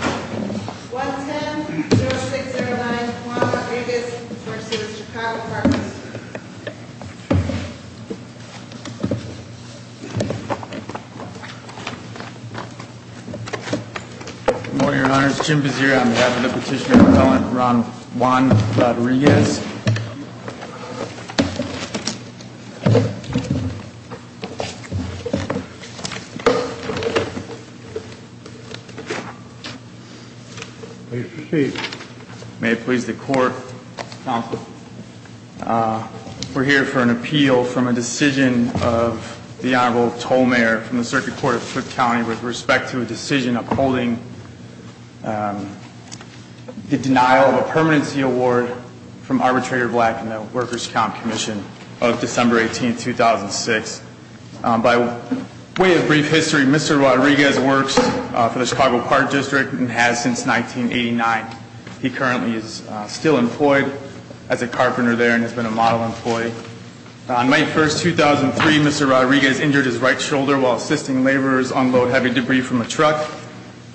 1-10-0609 Juan Rodriguez v. Chicago Partners Good morning, Your Honors. Jim Vizzier on behalf of the petitioner appellant, Juan Rodriguez. Please proceed. May it please the Court, Counsel. We're here for an appeal from a decision of the Honorable Toll Mayor from the Circuit Court of Tooke County with respect to a decision upholding the denial of a permanency award from Arbitrator Black in the Workers' Comp Commission of December 18, 2006. By way of brief history, Mr. Rodriguez works for the Chicago Park District and has since 1989. He currently is still employed as a carpenter there and has been a model employee. On May 1, 2003, Mr. Rodriguez injured his right shoulder while assisting laborers unload heavy debris from a truck.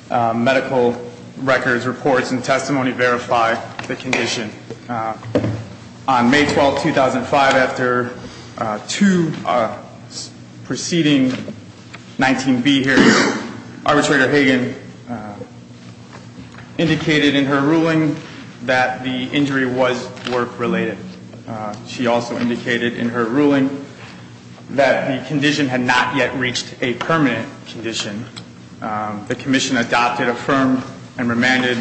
Medical records, reports, and testimony verify the condition. On May 12, 2005, after two preceding 19B hearings, Arbitrator Hagan indicated in her ruling that the injury was work-related. She also indicated in her ruling that the condition had not yet reached a permanent condition. The Commission adopted, affirmed, and remanded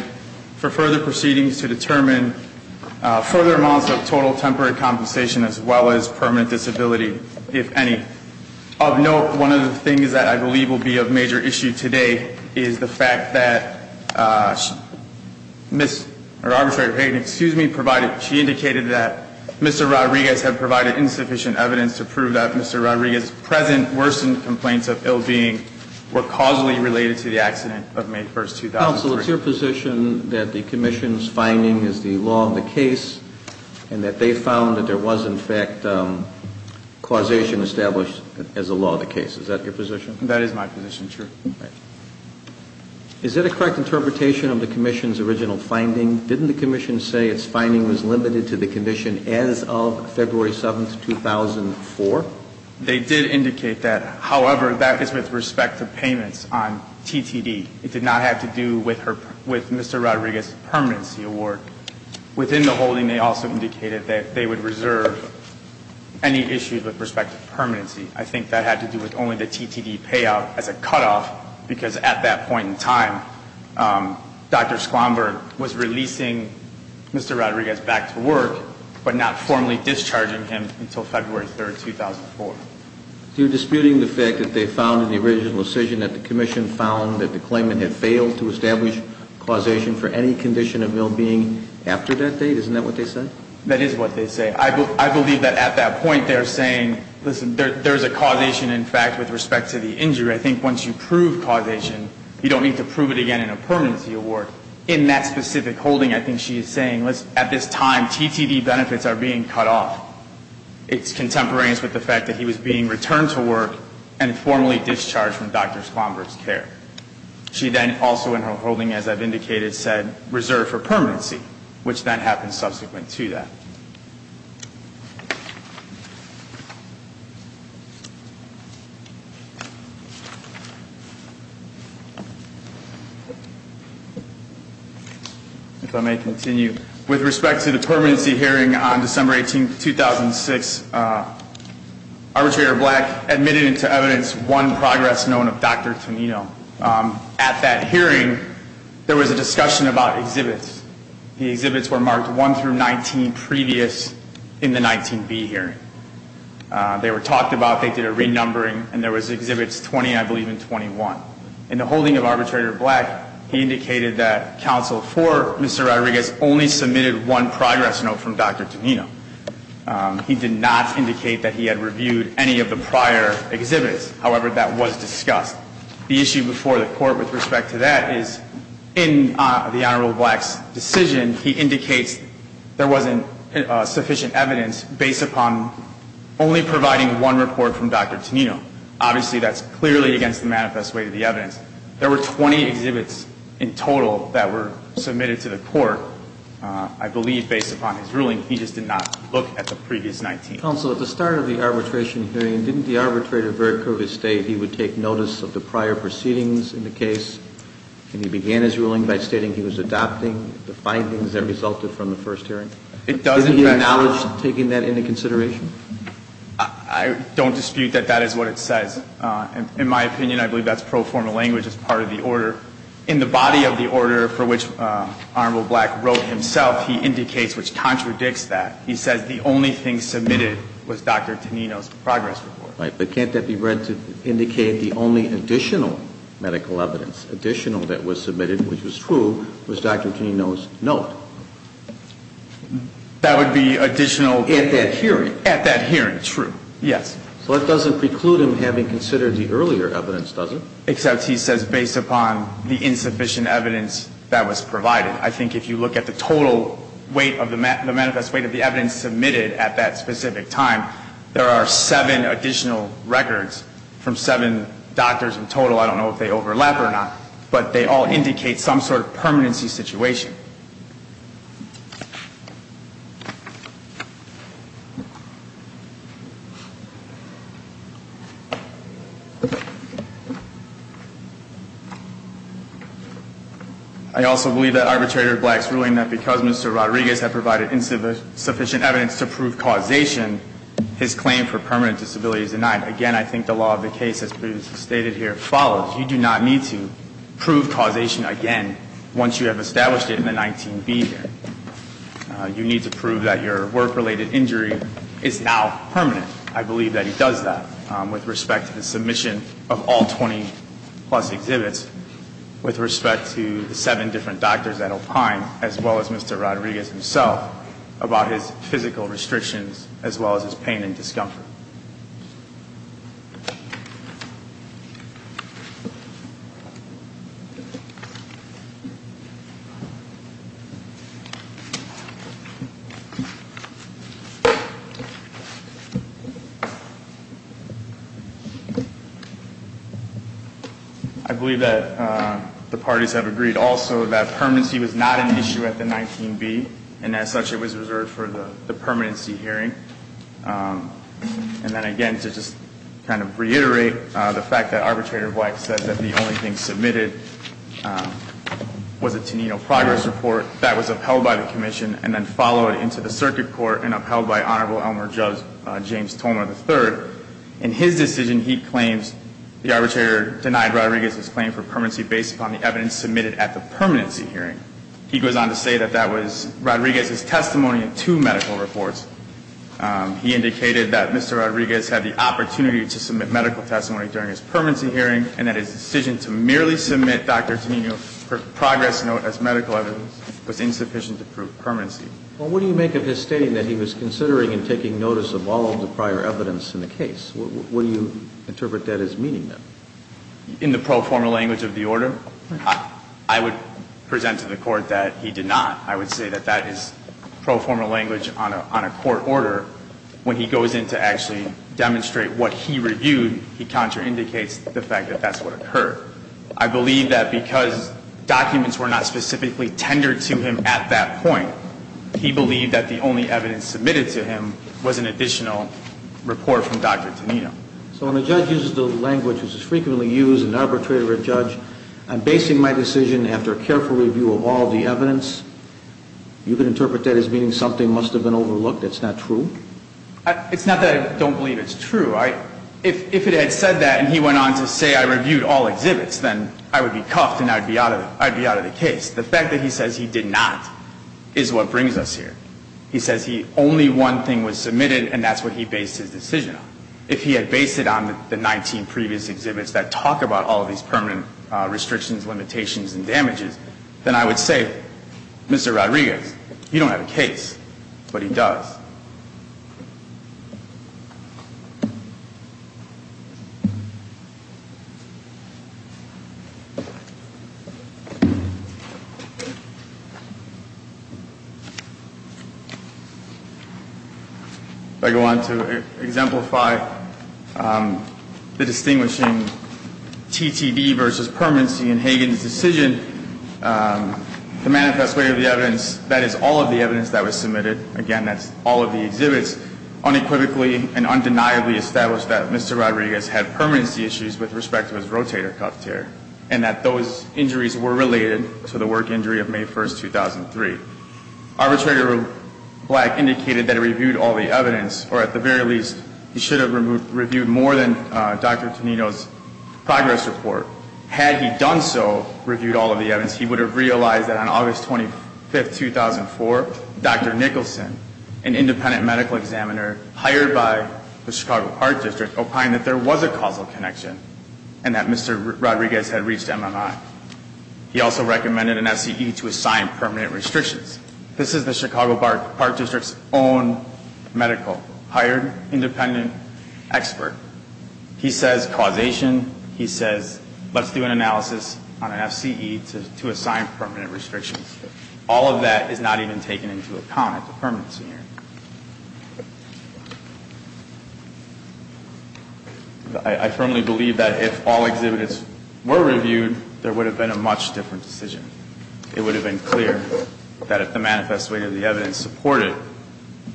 for further proceedings to determine further amounts of total temporary compensation as well as permanent disability, if any. Of note, one of the things that I believe will be of major issue today is the fact that Arbitrator Hagan indicated that Mr. Rodriguez had provided insufficient evidence to prove that Mr. Rodriguez's present worsened complaints of ill-being were causally related to the accident of May 1, 2003. Counsel, it's your position that the Commission's finding is the law of the case and that they found that there was, in fact, causation established as the law of the case. Is that your position? That is my position, sure. Is that a correct interpretation of the Commission's original finding? Didn't the Commission say its finding was limited to the condition as of February 7, 2004? They did indicate that. However, that is with respect to payments on TTD. It did not have to do with Mr. Rodriguez's permanency award. Within the holding, they also indicated that they would reserve any issues with respect to permanency. I think that had to do with only the TTD payout as a cutoff, because at that point in time, Dr. Squamberg was releasing Mr. Rodriguez back to work, but not formally discharging him until February 3, 2004. So you're disputing the fact that they found in the original decision that the Commission found that the claimant had failed to establish causation for any condition of ill-being after that date? Isn't that what they said? That is what they said. I believe that at that point they're saying, listen, there's a causation, in fact, with respect to the injury. I think once you prove causation, you don't need to prove it again in a permanency award. In that specific holding, I think she is saying, at this time, TTD benefits are being cut off. It's contemporaneous with the fact that he was being returned to work and formally discharged from Dr. Squamberg's care. She then also in her holding, as I've indicated, said, reserve for permanency, which then happened subsequent to that. If I may continue, with respect to the permanency hearing on December 18, 2006, Arbitrator Black admitted to evidence one progress known of Dr. Tonino. At that hearing, there was a discussion about exhibits. The exhibits were marked 1 through 19, previous to Dr. Tonino. In the 19B hearing, they were talked about. They did a renumbering, and there was exhibits 20, I believe, and 21. In the holding of Arbitrator Black, he indicated that counsel for Mr. Rodriguez only submitted one progress note from Dr. Tonino. He did not indicate that he had reviewed any of the prior exhibits. However, that was discussed. The issue before the Court with respect to that is in the Honorable Black's decision, he indicates there wasn't sufficient evidence based upon only providing one report from Dr. Tonino. Obviously, that's clearly against the manifest way of the evidence. There were 20 exhibits in total that were submitted to the Court. I believe, based upon his ruling, he just did not look at the previous 19. Counsel, at the start of the arbitration hearing, didn't the arbitrator very clearly state he would take notice of the prior proceedings in the case, and he began his ruling by stating he was adopting the findings that resulted from the first hearing? It does, in fact. Isn't he acknowledged taking that into consideration? I don't dispute that that is what it says. In my opinion, I believe that's pro forma language as part of the order. In the body of the order for which Honorable Black wrote himself, he indicates which contradicts that. He says the only thing submitted was Dr. Tonino's progress report. Right. But can't that be read to indicate the only additional medical evidence, additional that was submitted, which was true, was Dr. Tonino's note? That would be additional at that hearing. At that hearing, true, yes. So that doesn't preclude him having considered the earlier evidence, does it? Except he says based upon the insufficient evidence that was provided. I think if you look at the total weight of the manifest weight of the evidence submitted at that specific time, there are seven additional records from seven doctors in total. I don't know if they overlap or not, but they all indicate some sort of permanency situation. I also believe that Arbitrator Black's ruling that because Mr. Rodriguez had provided insufficient evidence to prove causation, his claim for permanent disability is denied. Again, I think the law of the case, as previously stated here, follows. You do not need to prove causation again once you have established it. You need to prove that your work-related injury is now permanent. I believe that he does that with respect to the submission of all 20-plus exhibits, with respect to the seven different doctors at Opine, as well as Mr. Rodriguez himself, about his physical restrictions, as well as his pain and discomfort. I believe that the parties have agreed also that permanency was not an issue at the 19B, and as such it was reserved for the permanency hearing. And then again, to just kind of reiterate the fact that Arbitrator Black said that the only thing submitted was a Tenino progress report, that was upheld by the commission and then followed into the circuit court and upheld by Honorable Elmer James Tolmar III. In his decision, he claims the arbitrator denied Rodriguez's claim for permanency based upon the evidence submitted at the permanency hearing. He goes on to say that that was Rodriguez's testimony in two medical reports. He indicated that Mr. Rodriguez had the opportunity to submit medical testimony during his permanency hearing and that his decision to merely submit Dr. Tenino's progress note as medical evidence was insufficient to prove permanency. Well, what do you make of his stating that he was considering and taking notice of all of the prior evidence in the case? What do you interpret that as meaning, then? In the pro forma language of the order, I would present to the Court that he did not. I would say that that is pro forma language on a court order. However, when he goes in to actually demonstrate what he reviewed, he contraindicates the fact that that's what occurred. I believe that because documents were not specifically tendered to him at that point, he believed that the only evidence submitted to him was an additional report from Dr. Tenino. So when a judge uses the language which is frequently used in arbitrary of a judge, I'm basing my decision after a careful review of all the evidence. You could interpret that as meaning something must have been overlooked. That's not true? It's not that I don't believe it's true. If it had said that and he went on to say I reviewed all exhibits, then I would be cuffed and I would be out of the case. The fact that he says he did not is what brings us here. He says only one thing was submitted and that's what he based his decision on. If he had based it on the 19 previous exhibits that talk about all of these permanent restrictions, limitations, and damages, then I would say, Mr. Rodriguez, you don't have a case, but he does. If I go on to exemplify the distinguishing TTD versus permanency in Hagan's decision, the manifest way of the evidence, that is all of the evidence that was submitted, again, that's all of the exhibits, unequivocally and undeniably established that Mr. Rodriguez had permanency issues with respect to his rotator cuff tear and that those injuries were related to the work injury of May 1, 2003. Arbitrator Black indicated that he reviewed all the evidence, or at the very least, he should have reviewed more than Dr. Tenino's progress report. Had he done so, reviewed all of the evidence, he would have realized that on August 25, 2004, Dr. Nicholson, an independent medical examiner hired by the Chicago Park District, opined that there was a causal connection and that Mr. Rodriguez had reached MMI. He also recommended an SCE to assign permanent restrictions. This is the Chicago Park District's own medical, hired, independent expert. He says causation, he says let's do an analysis on an SCE to assign permanent restrictions. All of that is not even taken into account at the permanency hearing. I firmly believe that if all exhibits were reviewed, there would have been a much different decision. It would have been clear that if the manifest way of the evidence supported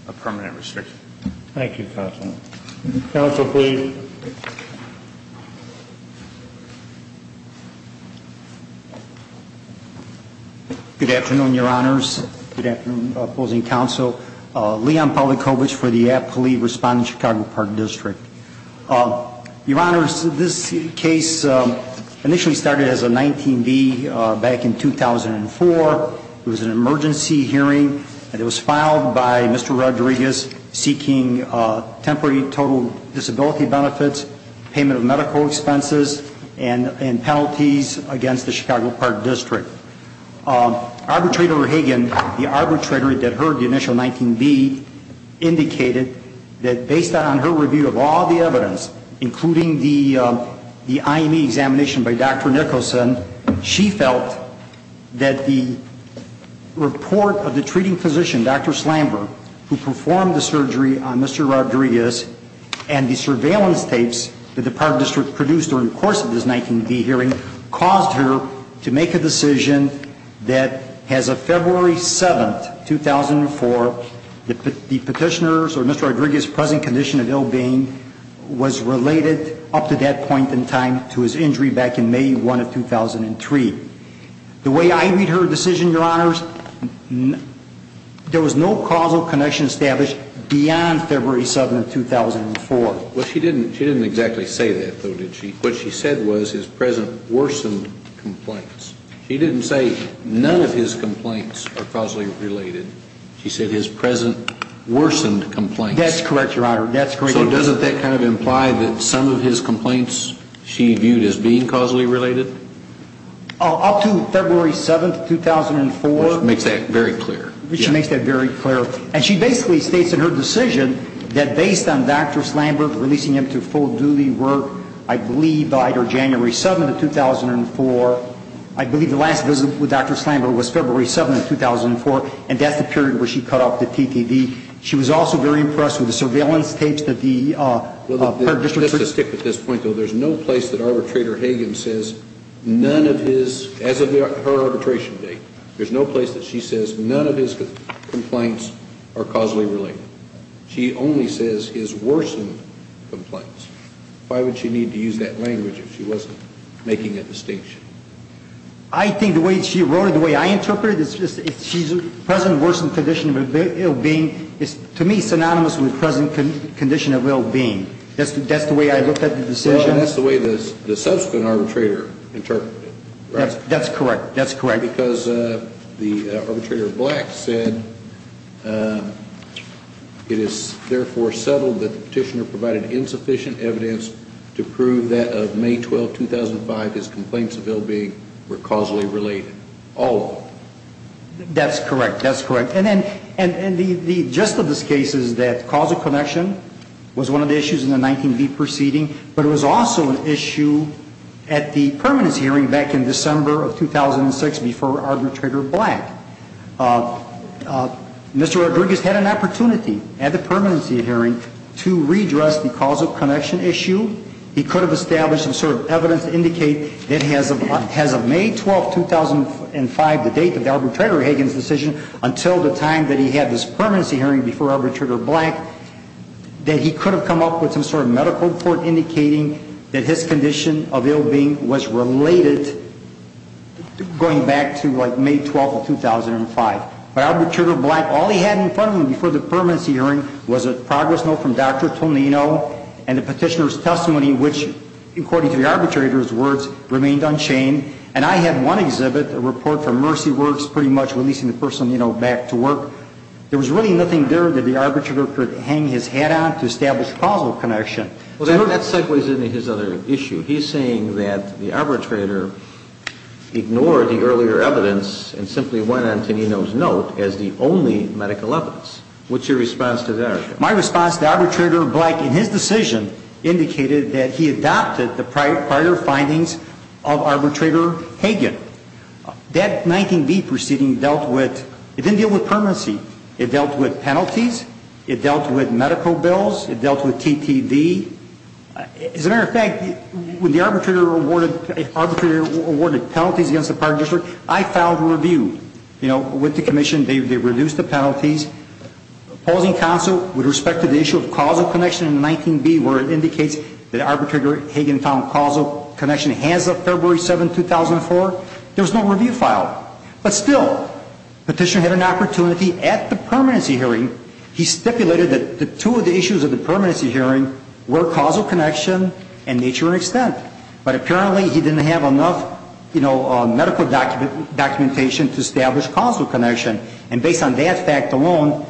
a permanent restriction. Thank you, Counsel. Counsel, please. Good afternoon, Your Honors. Good afternoon, opposing counsel. Leon Pulikovich for the Aptly Respondent Chicago Park District. Your Honors, this case initially started as a 19B back in 2004. It was an emergency hearing and it was filed by Mr. Rodriguez seeking temporary total disability benefits, payment of medical expenses, and penalties against the Chicago Park District. Arbitrator Hagan, the arbitrator that heard the initial 19B, indicated that based on her review of all the evidence, including the IME examination by Dr. Nicholson, she felt that the report of the treating physician, Dr. Slamberg, who performed the surgery on Mr. Rodriguez and the surveillance tapes that the Park District produced during the course of this 19B hearing caused her to make a decision that as of February 7, 2004, the petitioner's or Mr. Rodriguez's present condition of ill being was related up to that point in time to his injury back in May 1 of 2003. The way I read her decision, Your Honors, there was no causal connection established beyond February 7, 2004. Well, she didn't exactly say that, though, did she? What she said was his present worsened complaints. She didn't say none of his complaints are causally related. She said his present worsened complaints. That's correct, Your Honor. That's correct. So doesn't that kind of imply that some of his complaints she viewed as being causally related? Up to February 7, 2004. Which makes that very clear. Which makes that very clear. And she basically states in her decision that based on Dr. Slamberg releasing him to full duty work, I believe by either January 7 of 2004, I believe the last visit with Dr. Slamberg was February 7 of 2004, and that's the period where she cut off the TTV. She was also very impressed with the surveillance tapes of her district. Just to stick with this point, though, there's no place that Arbitrator Hagan says none of his, as of her arbitration date, there's no place that she says none of his complaints are causally related. She only says his worsened complaints. Why would she need to use that language if she wasn't making a distinction? I think the way she wrote it, the way I interpret it, she's present worsened condition of ill-being is to me synonymous with present condition of ill-being. That's the way I look at the decision. Well, and that's the way the subsequent arbitrator interpreted it. That's correct. That's correct. Because the arbitrator Black said, it is therefore settled that the petitioner provided insufficient evidence to prove that of May 12, 2005, his complaints of ill-being were causally related. All of them. That's correct. That's correct. And the gist of this case is that causal connection was one of the issues in the 19B proceeding, but it was also an issue at the permanency hearing back in December of 2006 before Arbitrator Black. Mr. Rodriguez had an opportunity at the permanency hearing to redress the causal connection issue. He could have established some sort of evidence to indicate that as of May 12, 2005, the date of the arbitrator Hagan's decision, until the time that he had this permanency hearing before Arbitrator Black, that he could have come up with some sort of medical report indicating that his condition of ill-being was related, going back to like May 12, 2005. But Arbitrator Black, all he had in front of him before the permanency hearing was a progress note from Dr. Tonino and the petitioner's testimony. Which, according to the arbitrator's words, remained unchained. And I had one exhibit, a report from Mercy Works, pretty much releasing the person, you know, back to work. There was really nothing there that the arbitrator could hang his hat on to establish causal connection. Well, that segues into his other issue. He's saying that the arbitrator ignored the earlier evidence and simply went on Tonino's note as the only medical evidence. What's your response to that? My response to Arbitrator Black, in his decision, indicated that he adopted the prior findings of Arbitrator Hagan. That 19B proceeding dealt with, it didn't deal with permanency. It dealt with penalties. It dealt with medical bills. It dealt with TTV. As a matter of fact, when the arbitrator awarded penalties against the Park District, I filed a review. You know, with the commission, they reduced the penalties. Opposing counsel, with respect to the issue of causal connection in 19B, where it indicates that Arbitrator Hagan found causal connection hands up February 7, 2004, there was no review filed. But still, petitioner had an opportunity at the permanency hearing. He stipulated that two of the issues at the permanency hearing were causal connection and nature and extent. But apparently, he didn't have enough, you know, medical documentation to establish causal connection. And based on that fact alone,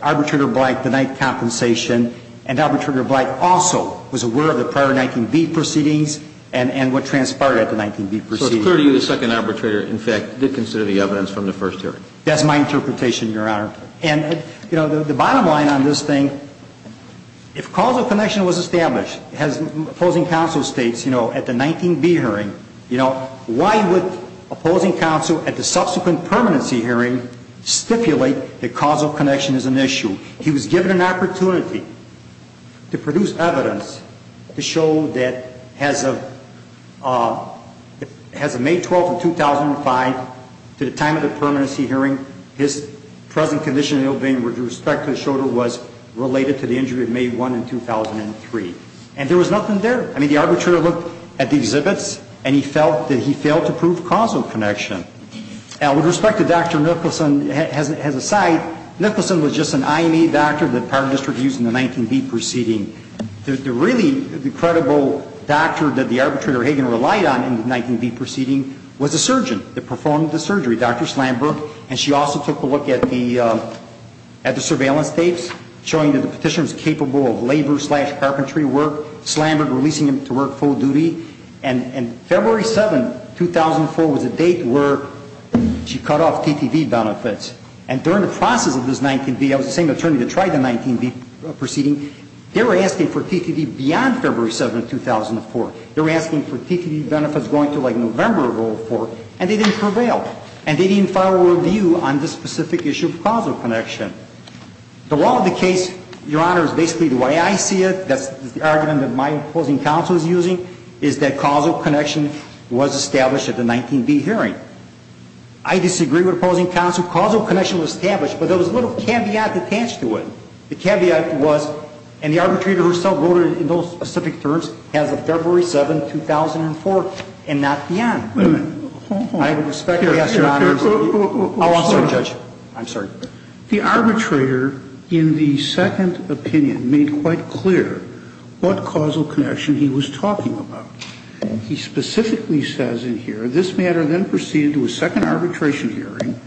Arbitrator Black denied compensation. And Arbitrator Black also was aware of the prior 19B proceedings and what transpired at the 19B proceedings. So it's clear to you the second arbitrator, in fact, did consider the evidence from the first hearing. That's my interpretation, Your Honor. And, you know, the bottom line on this thing, if causal connection was established, as opposing counsel states, you know, at the 19B hearing, you know, why would opposing counsel at the subsequent permanency hearing stipulate that causal connection is an issue? He was given an opportunity to produce evidence to show that as of May 12, 2005, to the time of the permanency hearing, his present condition of the ill-being with respect to the shoulder was related to the injury of May 1 in 2003. And there was nothing there. I mean, the arbitrator looked at the exhibits, and he felt that he failed to prove causal connection. Now, with respect to Dr. Nicholson, as an aside, Nicholson was just an INA doctor that the Parliament District used in the 19B proceeding. The really credible doctor that the arbitrator, Hagan, relied on in the 19B proceeding was a surgeon that performed the surgery, Dr. Slamberg. And she also took a look at the surveillance tapes showing that the Petitioner was capable of labor-slash-carpentry work, Slamberg releasing him to work full duty. And February 7, 2004, was the date where she cut off TTV benefits. And during the process of this 19B, I was the same attorney that tried the 19B proceeding. They were asking for TTV beyond February 7, 2004. They were asking for TTV benefits going to, like, November of 2004, and they didn't prevail. And they didn't file a review on this specific issue of causal connection. The law of the case, Your Honor, is basically the way I see it. That's the argument that my opposing counsel is using, is that causal connection was established at the 19B hearing. I disagree with opposing counsel. Causal connection was established, but there was a little caveat attached to it. The caveat was, and the arbitrator herself voted in those specific terms as of February 7, 2004, and not beyond. Wait a minute. I respect the answer, Your Honor. I'll answer, Judge. I'm sorry. The arbitrator, in the second opinion, made quite clear what causal connection he was talking about. He specifically says in here, this matter then proceeded to a second arbitration hearing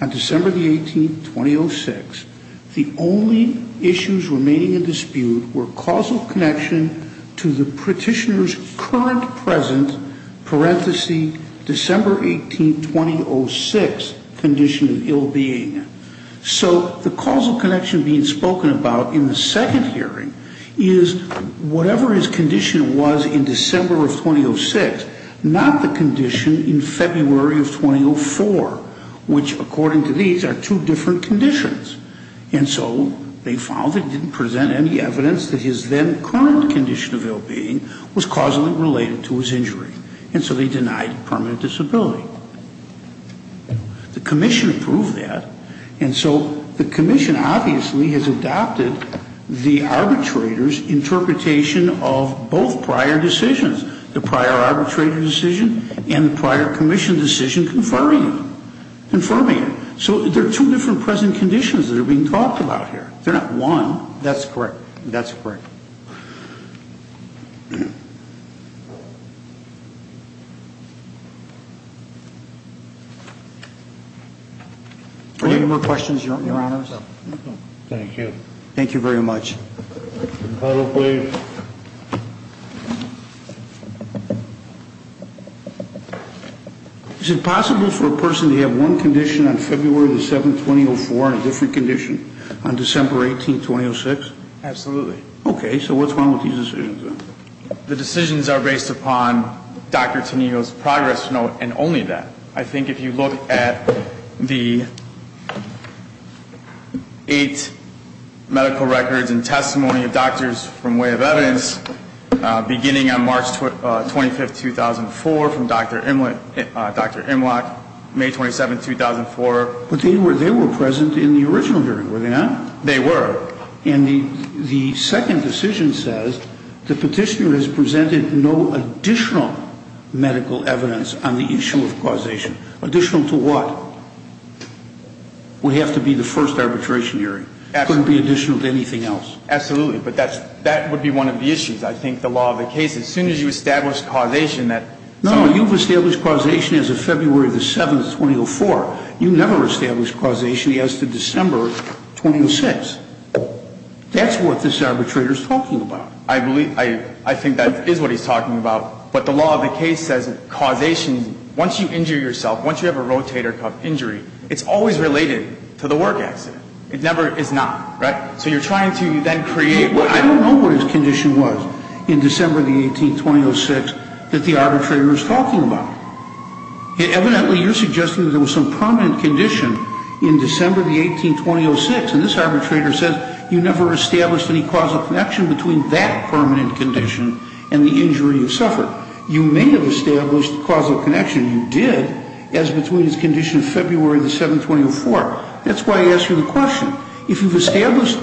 on December the 18th, 2006. The only issues remaining in dispute were causal connection to the petitioner's current present, parenthesis, December 18, 2006, condition of ill being. So the causal connection being spoken about in the second hearing is whatever his condition was in December of 2006, not the condition in February of 2004, which, according to these, are two different conditions. And so they found they didn't present any evidence that his then current condition of ill being was causally related to his injury. And so they denied permanent disability. The commission approved that, and so the commission obviously has adopted the arbitrator's interpretation of both prior decisions, the prior arbitrator decision and the prior commission decision confirming it. So there are two different present conditions that are being talked about here. They're not one. That's correct. That's correct. Are there any more questions, Your Honors? Thank you. Thank you very much. The panel, please. Is it possible for a person to have one condition on February the 7th, 2004, and a different condition on December 18, 2006? Absolutely. Okay. So what's wrong with these decisions, then? The decisions are based upon Dr. Tenigo's progress note and only that. I think if you look at the eight medical records and testimony of doctors from way of evidence beginning on March 25, 2004, from Dr. Imlock, May 27, 2004. But they were present in the original hearing, were they not? They were. And the second decision says the petitioner has presented no additional medical evidence on the issue of causation. Additional to what? We have to be the first arbitration hearing. Absolutely. It couldn't be additional to anything else. Absolutely. But that would be one of the issues, I think, the law of the case. As soon as you establish causation, that's all. No, you've established causation as of February the 7th, 2004. You never established causation as to December 2006. That's what this arbitrator is talking about. I think that is what he's talking about. But the law of the case says causation, once you injure yourself, once you have a rotator cuff injury, it's always related to the work accident. It never is not. Right? So you're trying to then create what? I don't know what his condition was in December the 18th, 2006, that the arbitrator is talking about. Evidently, you're suggesting that there was some prominent condition in December the 18th, 2006, and this arbitrator says you never established any causal connection between that permanent condition and the injury you suffered. You may have established causal connection. You did, as between his condition in February the 7th, 2004. That's why I asked you the question. If you've established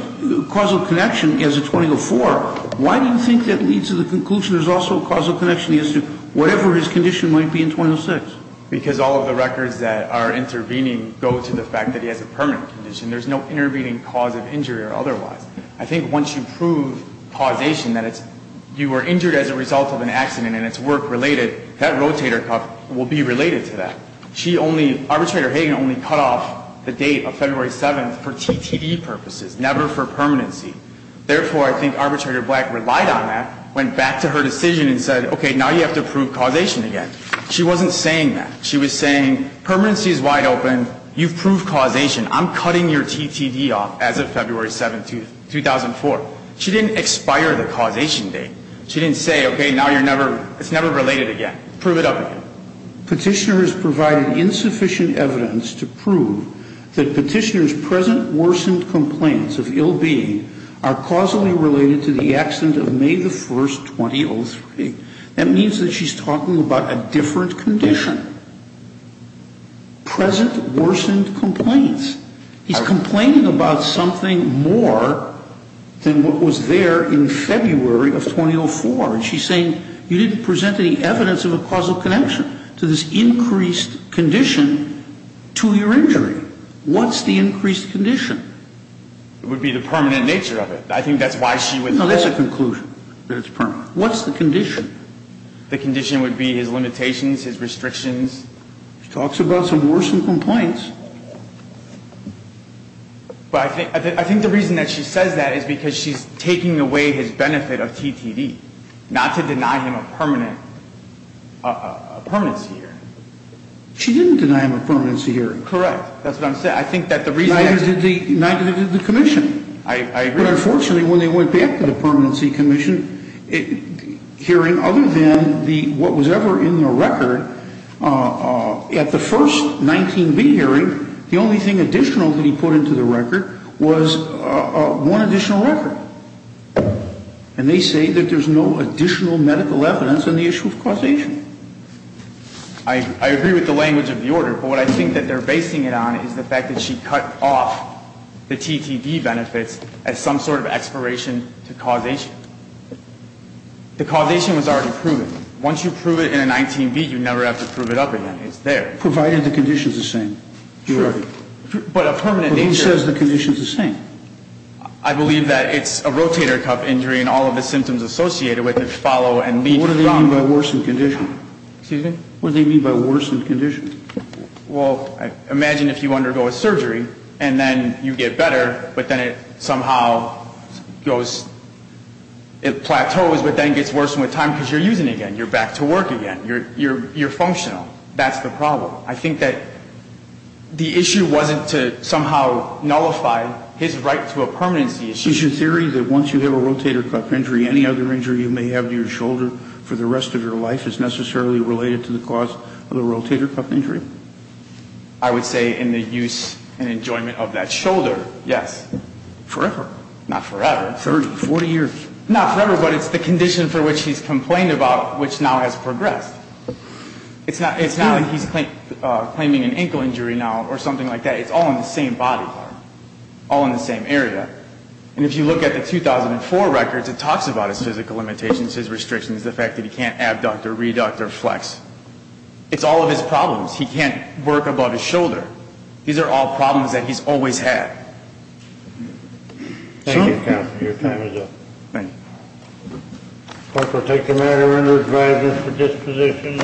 causal connection as of 2004, why do you think that leads to the conclusion there's also causal connection as to whatever his condition might be in 2006? Because all of the records that are intervening go to the fact that he has a permanent condition. There's no intervening cause of injury or otherwise. I think once you prove causation, that you were injured as a result of an accident and it's work-related, that rotator cuff will be related to that. Arbitrator Hagan only cut off the date of February 7th for TTE purposes, never for permanency. Therefore, I think Arbitrator Black relied on that, went back to her decision and said, okay, now you have to prove causation again. She wasn't saying that. She was saying permanency is wide open. You've proved causation. I'm cutting your TTE off as of February 7th, 2004. She didn't expire the causation date. She didn't say, okay, now you're never, it's never related again. Prove it up again. Petitioner has provided insufficient evidence to prove that Petitioner's present worsened complaints of ill-being are causally related to the accident of May the 1st, 2003. That means that she's talking about a different condition. Present worsened complaints. He's complaining about something more than what was there in February of 2004. And she's saying you didn't present any evidence of a causal connection to this increased condition to your injury. What's the increased condition? It would be the permanent nature of it. I think that's why she would... No, that's a conclusion, that it's permanent. What's the condition? The condition would be his limitations, his restrictions. She talks about some worsened complaints. But I think the reason that she says that is because she's taking away his benefit of TTE, not to deny him a permanent, a permanency hearing. She didn't deny him a permanency hearing. Correct. That's what I'm saying. I think that the reason... Neither did the commission. I agree. But unfortunately, when they went back to the permanency commission, hearing other than what was ever in the record, at the first 19B hearing, the only thing additional that he put into the record was one additional record. And they say that there's no additional medical evidence on the issue of causation. I agree with the language of the order. But what I think that they're basing it on is the fact that she cut off the TTE benefits as some sort of expiration to causation. The causation was already proven. Once you prove it in a 19B, you never have to prove it up again. It's there. Provided the condition's the same. Sure. But a permanent nature... But who says the condition's the same? I believe that it's a rotator cuff injury and all of the symptoms associated with it follow and lead... What do they mean by worsened condition? Excuse me? What do they mean by worsened condition? Well, imagine if you undergo a surgery and then you get better, but then it somehow goes... It plateaus, but then gets worse with time because you're using it again. You're back to work again. You're functional. That's the problem. I think that the issue wasn't to somehow nullify his right to a permanency issue. Is your theory that once you have a rotator cuff injury, any other injury you may have to your shoulder for the rest of your life is necessarily related to the cause of the rotator cuff injury? I would say in the use and enjoyment of that shoulder, yes. Forever. Not forever. 30, 40 years. Not forever, but it's the condition for which he's complained about which now has progressed. It's not like he's claiming an ankle injury now or something like that. It's all in the same body part, all in the same area. And if you look at the 2004 records, it talks about his physical limitations, his restrictions, the fact that he can't abduct or reduct or flex. It's all of his problems. He can't work above his shoulder. These are all problems that he's always had. Thank you, counsel. Your time is up. Thank you. Clerk, we'll take the matter under advisement for disposition.